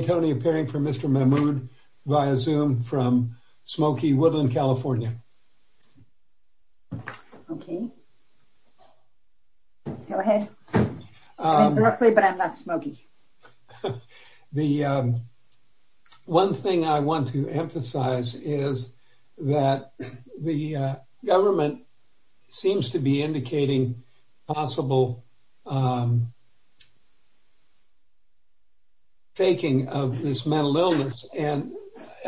Tony appearing for Mr. Mehmood via zoom from Smoky Woodland, California. The one thing I want to emphasize is that the government seems to be indicating possible faking of this mental illness and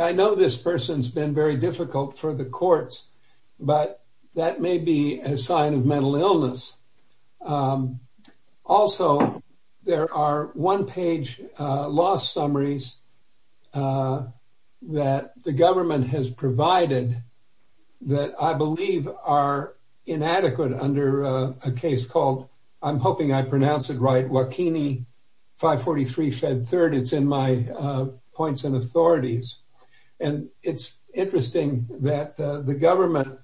I know this person's been very difficult for the courts but that may be a sign of mental illness. Also there are one-page loss summaries that the government has provided that I believe are inadequate under a case called, I'm hoping I pronounce it right, Wachini 543 Fed 3rd. It's in my points and authorities and it's interesting that the government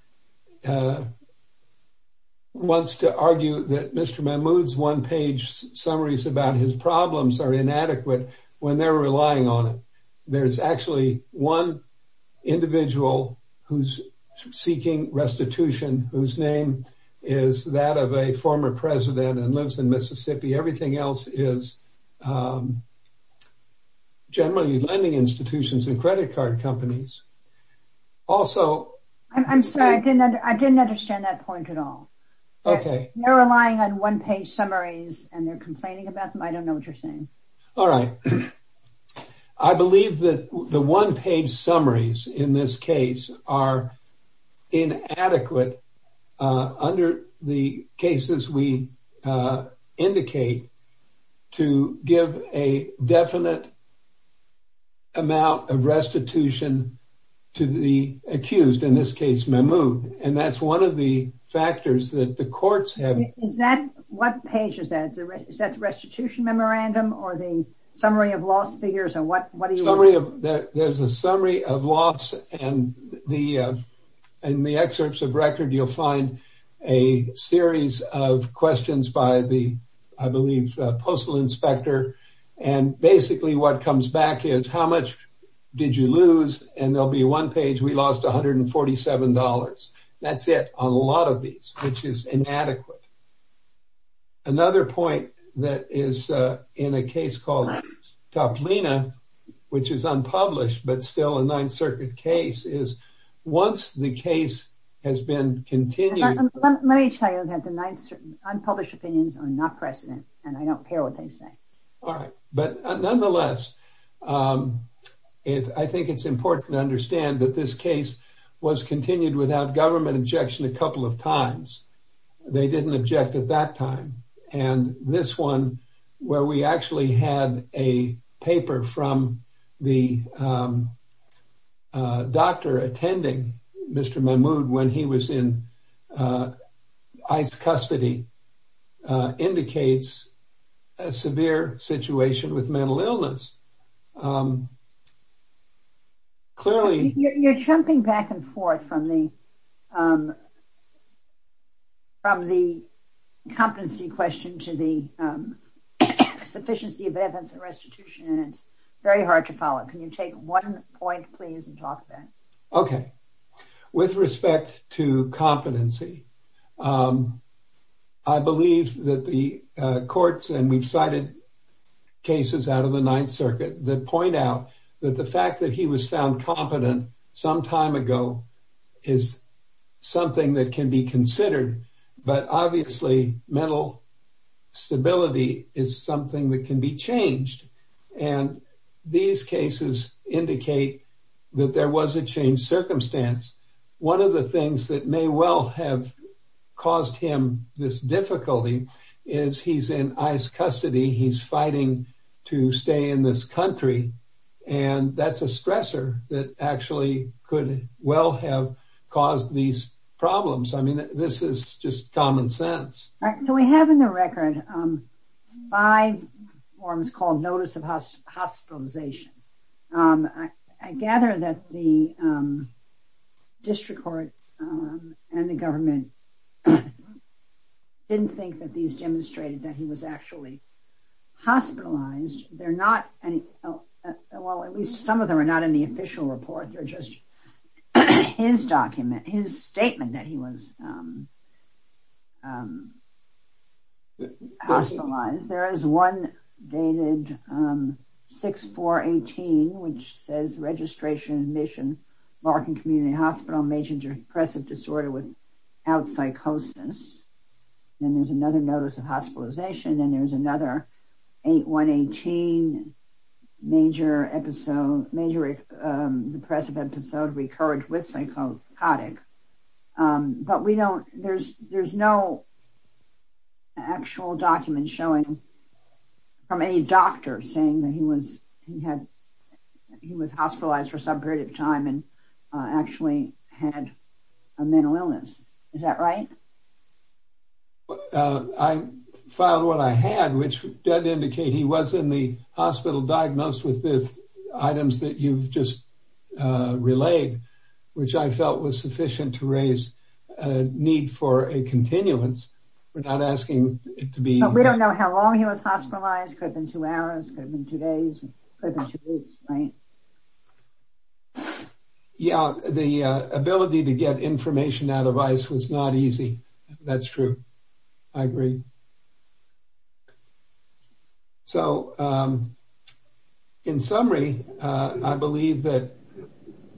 wants to argue that Mr. Mehmood's one-page summaries about his problems are inadequate when they're relying on it. There's actually one individual who's seeking restitution whose name is that of a former president and lives in Mississippi. Everything else is generally lending institutions and credit card companies. Also I'm sorry I didn't understand that point at all. Okay. They're relying on one-page summaries and they're complaining about them. I don't know what you're saying. All right. I believe that the one-page summaries in this case are inadequate under the cases we indicate to give a definite amount of restitution to the accused, in this case Mehmood, and that's one of the factors that the courts have. Is that, what page is that? Is that the restitution memorandum or the summary of lost figures or what? There's a summary of loss and in the excerpts of record you'll find a series of questions by the, I believe, postal inspector and basically what comes back is how much did you lose and there'll be one page we lost $147. That's it on a lot of these which is inadequate. Another point that is in a case called Toplina, which is unpublished but still a Ninth Circuit case, is once the case has been continued. Let me tell you that the Ninth Circuit unpublished opinions are not precedent and I don't care what they say. All right. But nonetheless, I think it's important to understand that this case was continued without government objection a couple of times. They didn't object at that time and this one where we actually had a paper from the doctor attending Mr. Mehmood when he was in ICE custody indicates a severe situation with mental illness. Clearly... sufficiency of evidence and restitution and it's very hard to follow. Can you take one point, please, and talk about it? Okay. With respect to competency, I believe that the courts, and we've cited cases out of the Ninth Circuit, that point out that the fact that he was found competent some time ago is something that can be considered. But obviously, mental stability is something that can be changed. And these cases indicate that there was a changed circumstance. One of the things that may well have caused him this difficulty is he's in ICE custody, he's fighting to stay in this country, and that's a stressor that actually could well have caused these problems. I mean, this is just common sense. All right. So we have in the record five forms called notice of hospitalization. I gather that the district court and the government didn't think that these demonstrated that he was actually hospitalized. They're not... well, at least some of them are not in the official report. They're just his document, his statement that he was hospitalized. There is one dated 6-4-18, which says registration, admission, Larkin Community Hospital, major depressive disorder without psychosis. Then there's another notice of hospitalization, and there's another 8-1-18 major episode, major depressive episode recurred with psychotic. But we don't... there's no actual document showing from any doctor saying that he was... he had... he was hospitalized for some period of time and actually had a mental illness. Is that right? I filed what I had, which did indicate he was in the hospital diagnosed with the items that you've just relayed, which I felt was sufficient to raise need for a continuance. We're not asking it to be... But we don't know how long he was hospitalized. Could have been two hours, could have been two days, could have been easy. That's true. I agree. So, in summary, I believe that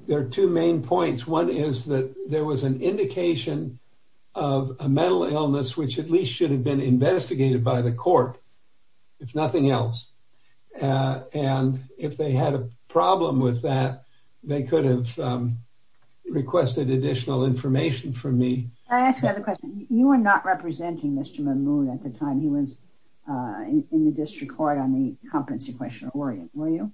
there are two main points. One is that there was an indication of a mental illness, which at least should have been investigated by the court, if nothing else. And if they had a problem with that, they could have requested additional information from me. I ask another question. You were not representing Mr. Mahmood at the time he was in the district court on the competency question, were you?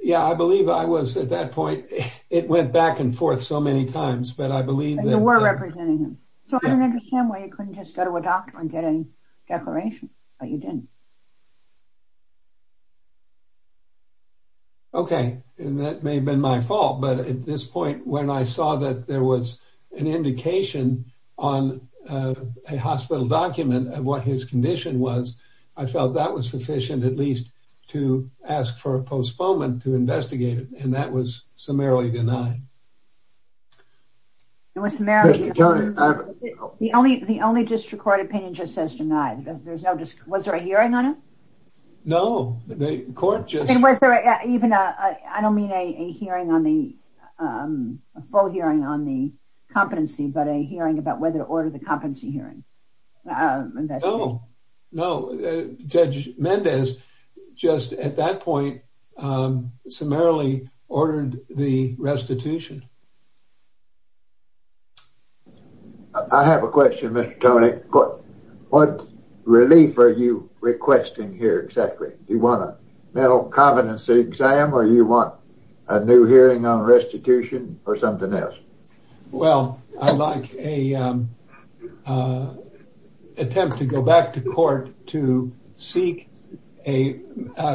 Yeah, I believe I was at that point. It went back and forth so many times, but I believe that... You were representing him. So I don't understand why you couldn't just go to a doctor and get a declaration, but you didn't. Okay. And that may have been my fault, but at this point, when I saw that there was an indication on a hospital document of what his condition was, I felt that was sufficient, at least, to ask for a postponement to investigate it. And that was summarily denied. It was summarily denied. The only district court opinion just says denied. Was there a hearing on it? No. The court just... And was there even a... I don't mean a hearing on the... A full hearing on the competency, but a hearing about whether to order the competency hearing. No. Judge Mendez just, at that point, summarily ordered the restitution. I have a question, Mr. Toney. What relief are you requesting here, exactly? Do you want a mental competency exam or you want a new hearing on restitution or something else? Well, I'd like a attempt to go back to court to seek a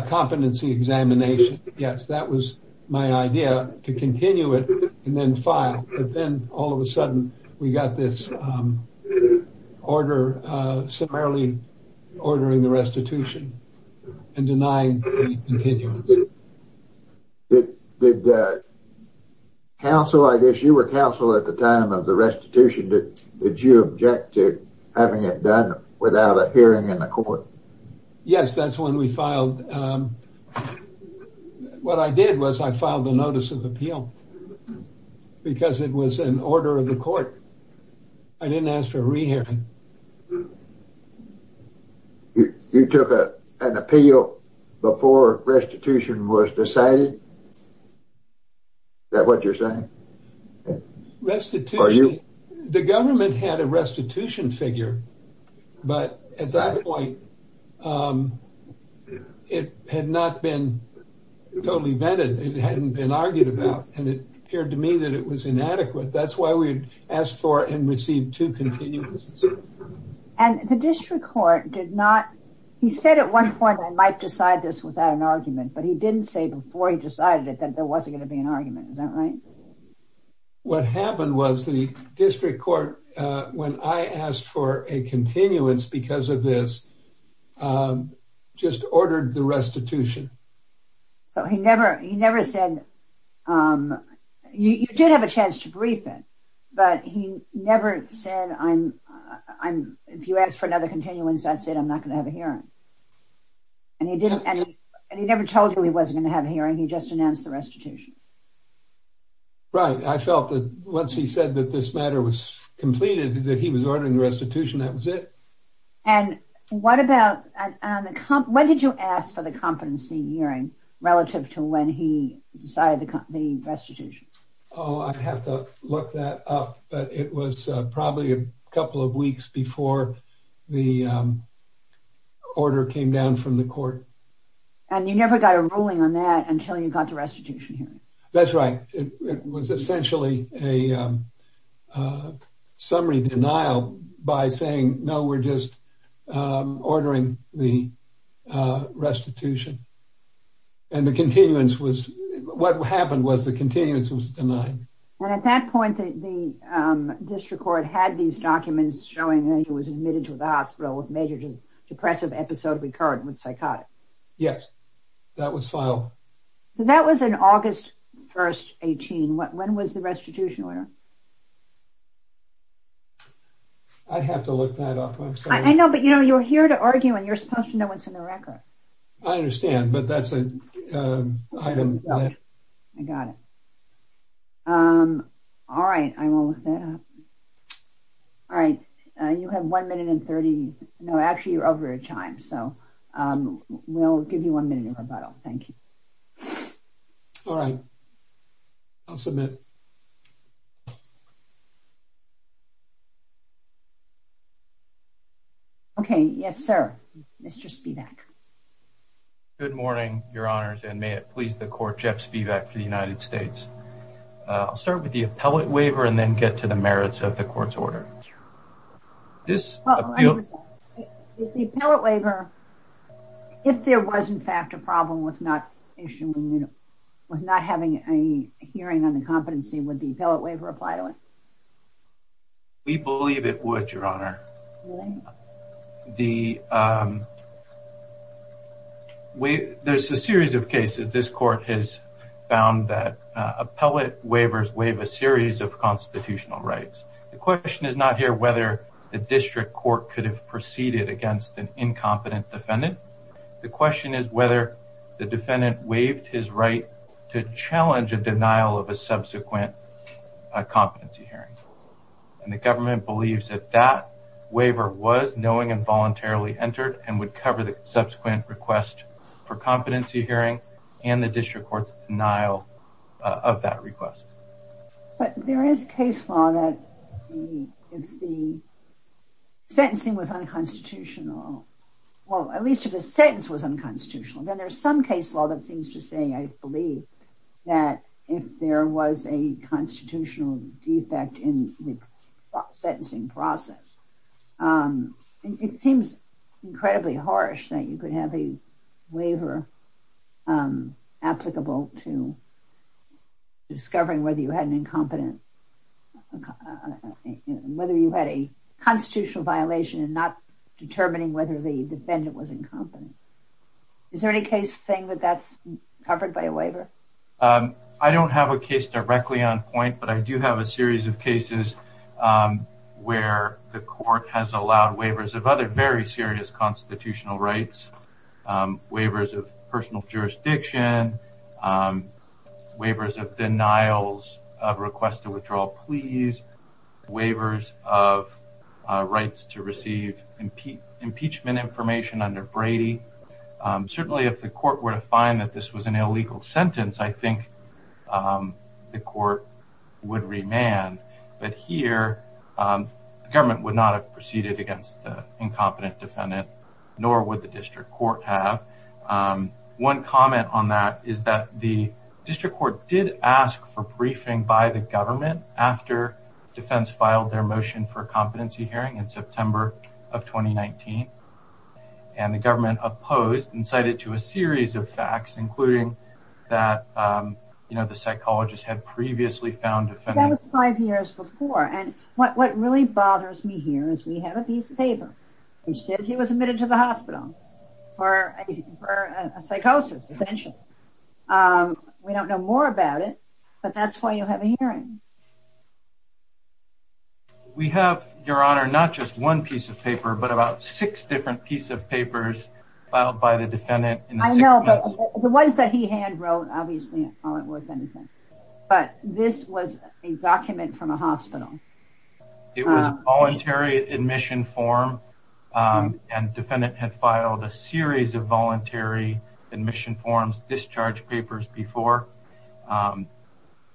competency examination. Yes, that was my idea, to continue it and then file. But then, all of a sudden, we got this order, summarily ordering the restitution and denying the continuance. Did counsel... I guess you were counsel at the time of the restitution. Did you object to having it done without a hearing in the court? Yes, that's when we filed. What I did was I filed a notice of appeal because it was an order of the court. I didn't ask for a re-hearing. You took an appeal before restitution was decided? Is that what you're saying? Restitution. The government had a restitution figure, but at that point, it had not been totally vetted. It hadn't been argued about. It appeared to me that it was inadequate. That's why we had asked for and received two continuances. The district court did not... He said at one point, I might decide this without an argument, but he didn't say before he decided it that there wasn't going to be an argument. Is that right? What happened was the district court, when I asked for a continuance because of this, just ordered the restitution. He never said... You did have a chance to brief it, but he never said, if you ask for another continuance, that's it. I'm not going to have a hearing. He never told you he wasn't going to have a hearing. He just announced the restitution. Right. I felt that once he said that this matter was completed, that he was ordering the restitution, that was it. When did you ask for the competency hearing relative to when he decided the restitution? I'd have to look that up, but it was probably a couple of weeks before the order came down from the court. You never got a ruling on that until you got the restitution hearing. That's right. It was essentially a summary denial by saying, no, we're just ordering the restitution. The continuance was... What happened was the continuance was denied. At that point, the district court had these documents showing that he was admitted to the hospital with major depressive episode recurrent with psychotic. Yes. That was filed. That was in August 1st, 18. When was the restitution order? I'd have to look that up. I know, but you're here to argue and you're supposed to know what's in the record. I understand, but that's an item that... I got it. All right. I will look that up. All right. You have one minute and 30... No, actually you're over your time. We'll give you one minute of rebuttal. Thank you. All right. I'll submit. Okay. Yes, sir. Mr. Spivak. Good morning, your honors, and may it please the court, Jeff Spivak for the United States. I'll start with the appellate waiver and then get to the merits of the court's order. If there was in fact a problem with not having any hearing on the competency, would the appellate waiver apply to it? We believe it would, your honor. There's a series of cases this court has found that question is not here whether the district court could have proceeded against an incompetent defendant. The question is whether the defendant waived his right to challenge a denial of a subsequent competency hearing. The government believes that that waiver was knowing and voluntarily entered and would cover the subsequent request for competency hearing and the district court's denial of that request. But there is case law that if the sentencing was unconstitutional, well, at least if the sentence was unconstitutional, then there's some case law that seems to say, I believe that if there was a constitutional defect in the sentencing process, it seems incredibly harsh that you could have a waiver applicable to discovering whether you had an incompetent, whether you had a constitutional violation and not determining whether the defendant was incompetent. Is there any case saying that that's covered by a waiver? I don't have a case directly on point, but I do have a series of cases where the court has allowed waivers of other very serious constitutional rights, waivers of personal jurisdiction, waivers of denials of request to withdraw pleas, waivers of rights to receive impeachment information under Brady. Certainly if the government would not have proceeded against the incompetent defendant, nor would the district court have. One comment on that is that the district court did ask for briefing by the government after defense filed their motion for competency hearing in September of 2019. And the government opposed and cited to a series of facts, including that, you know, the psychologist had previously found defendants. That was five years before. And what really bothers me here is we have a piece of paper that says he was admitted to the hospital for a psychosis, essentially. We don't know more about it, but that's why you have a hearing. We have, Your Honor, not just one piece of paper, but about six different pieces of papers filed by the defendant. I know, but the ones that he had wrote, obviously, aren't worth anything. But this was a document from a hospital. It was a voluntary admission form, and the defendant had filed a series of voluntary admission forms, discharge papers before.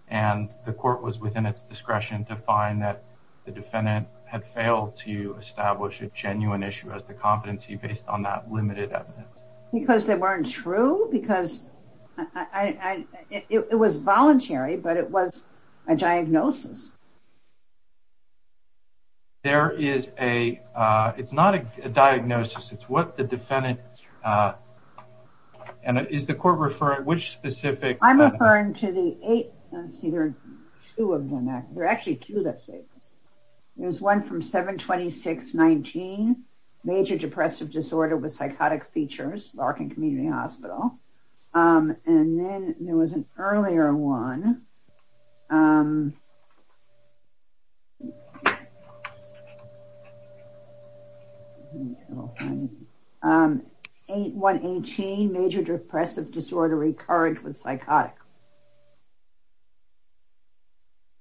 And the court was within its discretion to find that the defendant had failed to establish a genuine issue as the competency based on that limited evidence. Because they weren't true? Because it was voluntary, but it was a diagnosis. There is a, it's not a diagnosis, it's what the defendant, and is the court referring, which specific? I'm referring to the eight, let's see, there are two of them. There are actually two that say this. There's one from 72619, major depressive disorder with psychotic features, Larkin Community Hospital. And then, there was an earlier one, 8118, major depressive disorder recurrent with psychotic.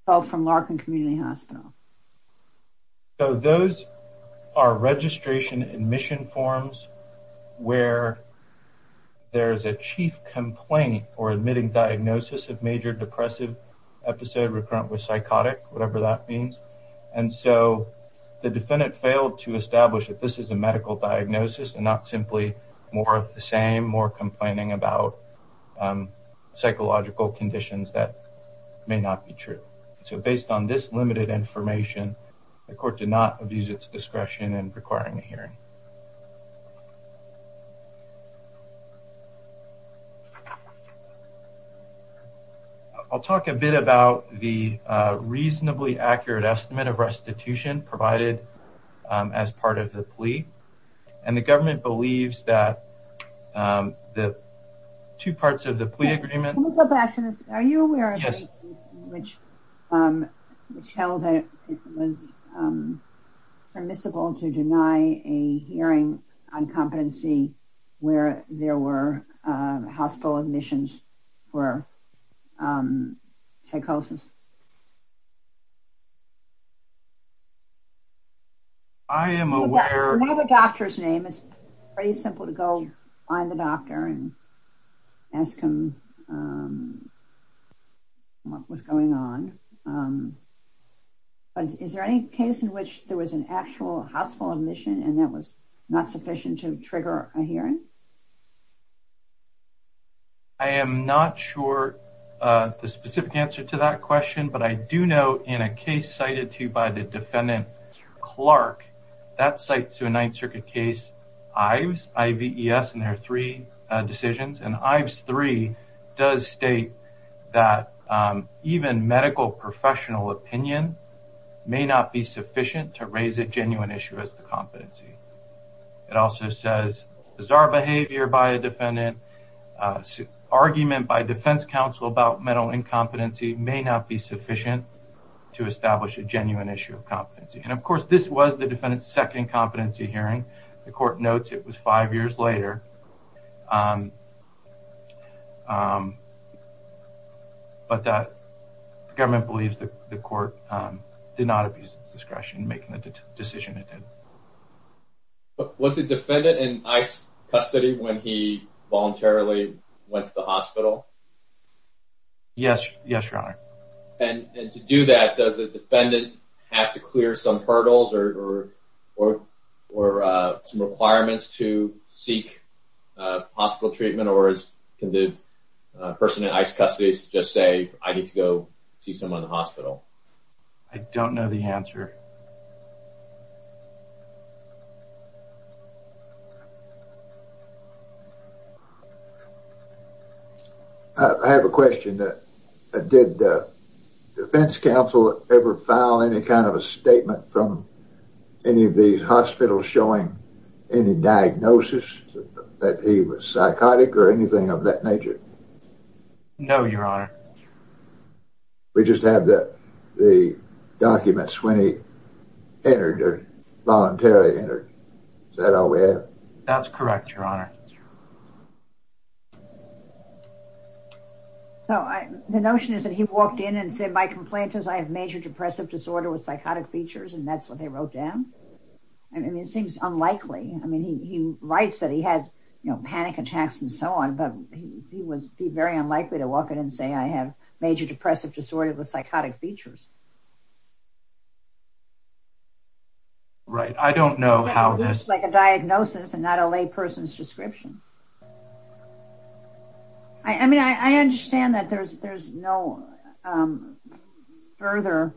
Both from Larkin Community Hospital. So, those are registration admission forms where there's a chief complaint or admitting diagnosis of major depressive episode recurrent with psychotic, whatever that means. And so, the defendant failed to establish that this is a medical diagnosis and not simply more of the same, more complaining about psychological conditions that may not be true. So, based on this limited information, the court did not abuse its discretion in requiring a hearing. I'll talk a bit about the reasonably accurate estimate of restitution provided as part of the plea. And the government believes that the two parts of the plea are the same. Are you aware of a case which held that it was permissible to deny a hearing on competency where there were hospital admissions for psychosis? I am aware. We have a doctor's file. Find the doctor and ask him what was going on. Is there any case in which there was an actual hospital admission and that was not sufficient to trigger a hearing? I am not sure the specific answer to that question, but I do know in a case cited to you by the defendant, Clark, that cites to a Ninth Circuit case, Ives, I-V-E-S, and there are three decisions. And Ives 3 does state that even medical professional opinion may not be sufficient to raise a genuine issue as the competency. It also says bizarre behavior by a defendant, argument by defense counsel about mental incompetency may not be sufficient to establish a genuine issue of competency. And, of course, this was the defendant's second competency hearing. The court notes it was five years later. But the government believes that the court did not abuse its discretion in making the decision it did. Was the defendant in Ives' custody when he voluntarily went to the hospital? Yes, Your Honor. And to do that, does the defendant have to clear some hurdles or some requirements to seek hospital treatment or can the person in Ives' custody just say, I need to go see someone in the hospital? I don't know the answer. I have a question. Did the defense counsel ever file any kind of a statement from any of these hospitals showing any diagnosis that he was psychotic or anything of that nature? No, Your Honor. We just have the documents when he entered or voluntarily entered. Is that all we have? That's correct, Your Honor. So the notion is that he walked in and said, my complaint is I have major depressive disorder with psychotic features, and that's what they wrote down. I mean, it seems unlikely. I mean, he writes that he had, you know, panic attacks and so on, but he would be very unlikely to walk in and say, I have major depressive disorder with psychotic features. Right. I don't know how this... Like a diagnosis and not a lay person's description. I mean, I understand that there's no further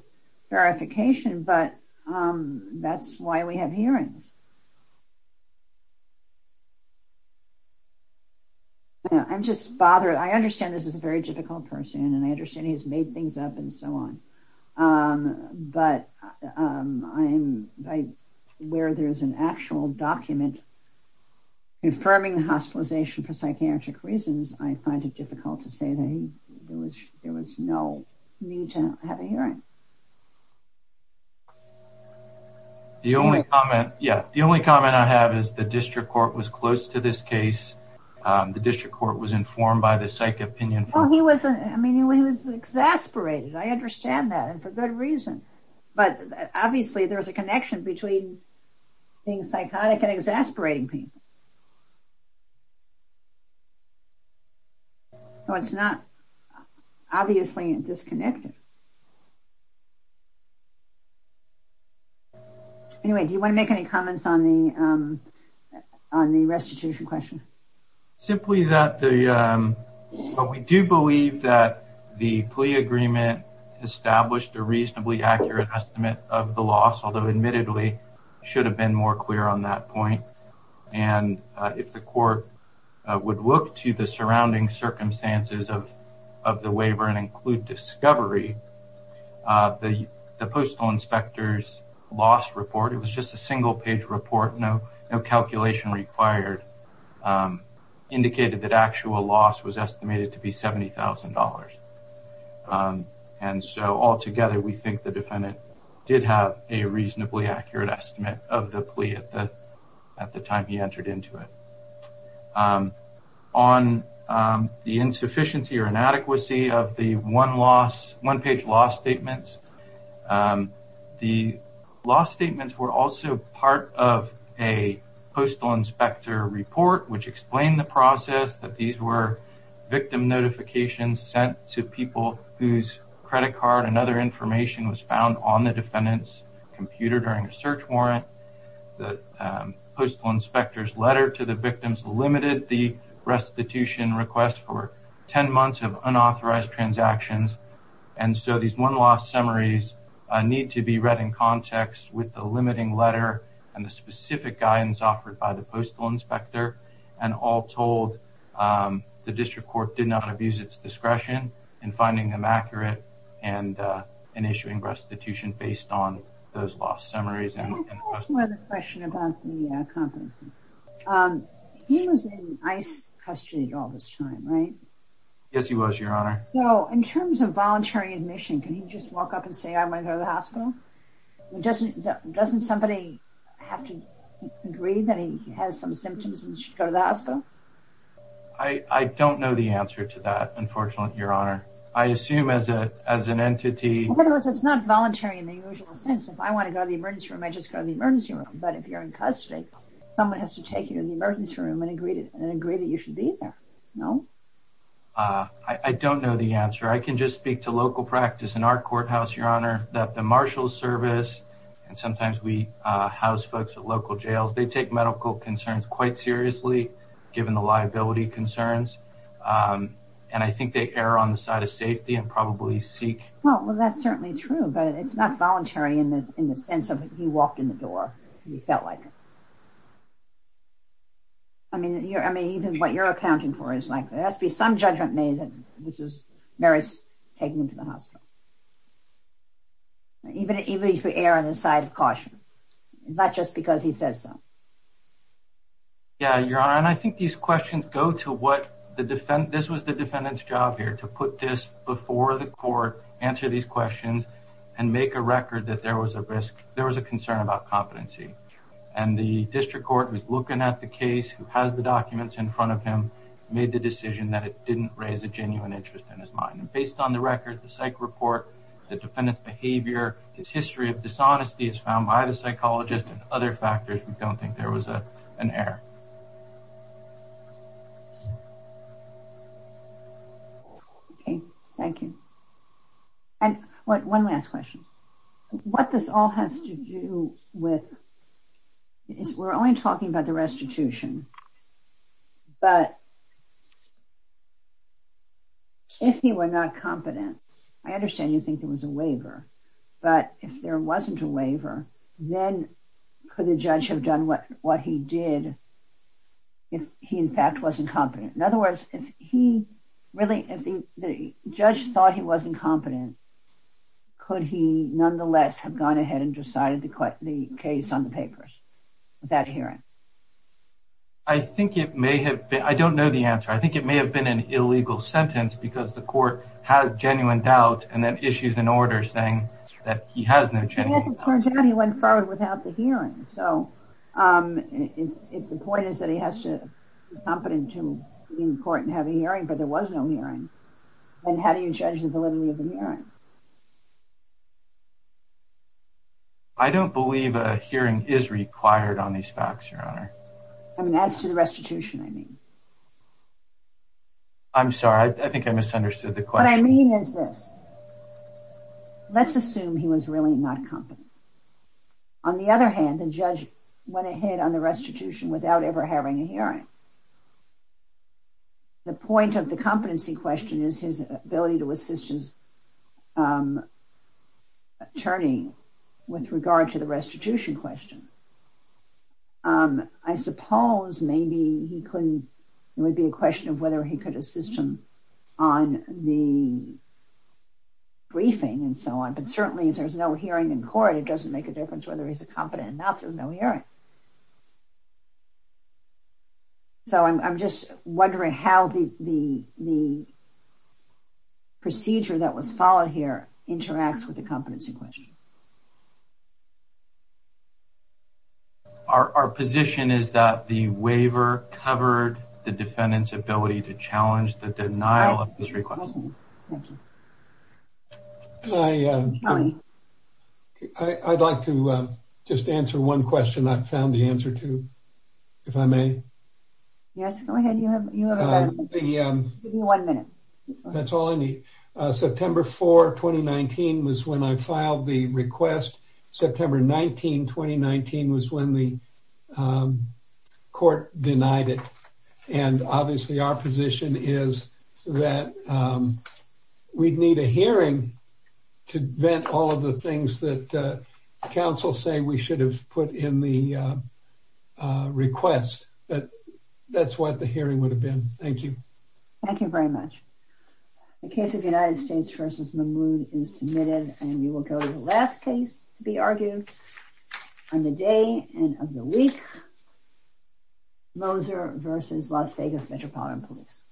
verification, but that's why we have hearings. I'm just bothered. I understand this is a very difficult person, and I understand he's made things up and so on, but where there's an actual document affirming the hospitalization for psychiatric reasons, I find it difficult to say that there was no need to have a hearing. The only comment, yeah, the only comment I have is the district court was close to this case. The district court was informed by the psych opinion. Well, he was, I mean, he was exasperated. I understand that, and for good reason, but obviously, there's a connection between being psychotic and exasperating people. No, it's not obviously disconnected. Anyway, do you want to make any comments on the restitution question? Simply that we do believe that the plea agreement established a reasonably accurate estimate of the admittedly should have been more clear on that point, and if the court would look to the surrounding circumstances of the waiver and include discovery, the postal inspector's loss report, it was just a single page report, no calculation required, indicated that actual loss was estimated to be $70,000, and so altogether, we think the defendant did have a reasonably accurate estimate of the plea at the time he entered into it. On the insufficiency or inadequacy of the one-page loss statements, the loss statements were also part of a postal inspector report, which explained the process that these were victim notifications sent to people whose credit card and other information was found on the defendant's computer during a search warrant. The postal inspector's letter to the victims limited the restitution request for 10 months of unauthorized transactions, and so these one-loss summaries need to be read in context with the limiting letter and the specific guidance offered by the postal inspector, and all told, the district court did based on those lost summaries. He was in ICE custody all this time, right? Yes, he was, Your Honor. So, in terms of voluntary admission, can he just walk up and say, I went to the hospital? Doesn't somebody have to agree that he has some symptoms and should go to the hospital? I don't know the answer to that, unfortunately, Your Honor. I assume as an entity... It's not voluntary in the usual sense. If I want to go to the emergency room, I just go to the emergency room, but if you're in custody, someone has to take you to the emergency room and agree that you should be there, no? I don't know the answer. I can just speak to local practice in our courthouse, Your Honor, that the marshal service, and sometimes we house folks at local jails, they take medical concerns quite seriously, given the liability concerns, and I think they err on the side of safety and probably seek... Well, that's certainly true, but it's not voluntary in the sense of he walked in the door and he felt like it. I mean, even what you're accounting for is likely. There has to be some judgment made that this is, Mary's taking him to the hospital. Even if we err on the side of caution, not just because he says so. Yeah, Your Honor, and I think these questions go to what the defendant... This was the defendant's job here, to put this before the court, answer these questions, and make a record that there was a risk, there was a concern about competency. And the district court was looking at the case, who has the documents in front of him, made the decision that it didn't raise a genuine interest in his mind. And based on the record, the psych report, the defendant's behavior, his history of dishonesty is found by the psychologist and other factors we don't think there was an error. Okay, thank you. And one last question. What this all has to do with... We're only talking about the restitution, but if he were not competent, I understand you think there was a waiver. But if there wasn't a waiver, then could the judge have done what he did if he in fact wasn't competent? In other words, if the judge thought he wasn't competent, could he nonetheless have gone ahead and decided the case on the papers, that hearing? I think it may have been... I don't know the answer. I think it may have been an illegal sentence because the court has genuine doubt and then issues an order saying that he has no genuine... It turns out he went forward without the hearing. So, it's the point is that he has to be competent to be in court and have a hearing, but there was no hearing. And how do you judge the validity of the hearing? I don't believe a hearing is required on these facts, Your Honor. I mean, as to the restitution, I mean. I'm sorry. I think I misunderstood the question. What I mean is this. Let's assume he was really not competent. On the other hand, the judge went ahead on the restitution without ever having a hearing. The point of the competency question is his ability to assist his attorney with regard to the restitution question. I suppose maybe he couldn't... It would be a question of whether he could assist him on the briefing and so on. But certainly, if there's no hearing in court, it doesn't make a difference whether he's competent or not. There's no hearing. Okay. So, I'm just wondering how the procedure that was followed here interacts with the competency question. Our position is that the waiver covered the defendant's ability to challenge the denial of his request. I'd like to just answer one question. I found the answer to, if I may. Yes, go ahead. You have one minute. That's all I need. September 4, 2019 was when I filed the request. September 19, 2019 was when the court denied it. Obviously, our position is that we'd need a hearing to vent all of the things that counsel say we should have put in the request, but that's what the hearing would have been. Thank you. Thank you very much. The case of United States v. Mahmood is submitted, and we will go to the last case to be argued on the day and of the week, Moser v. Las Vegas Metropolitan Police.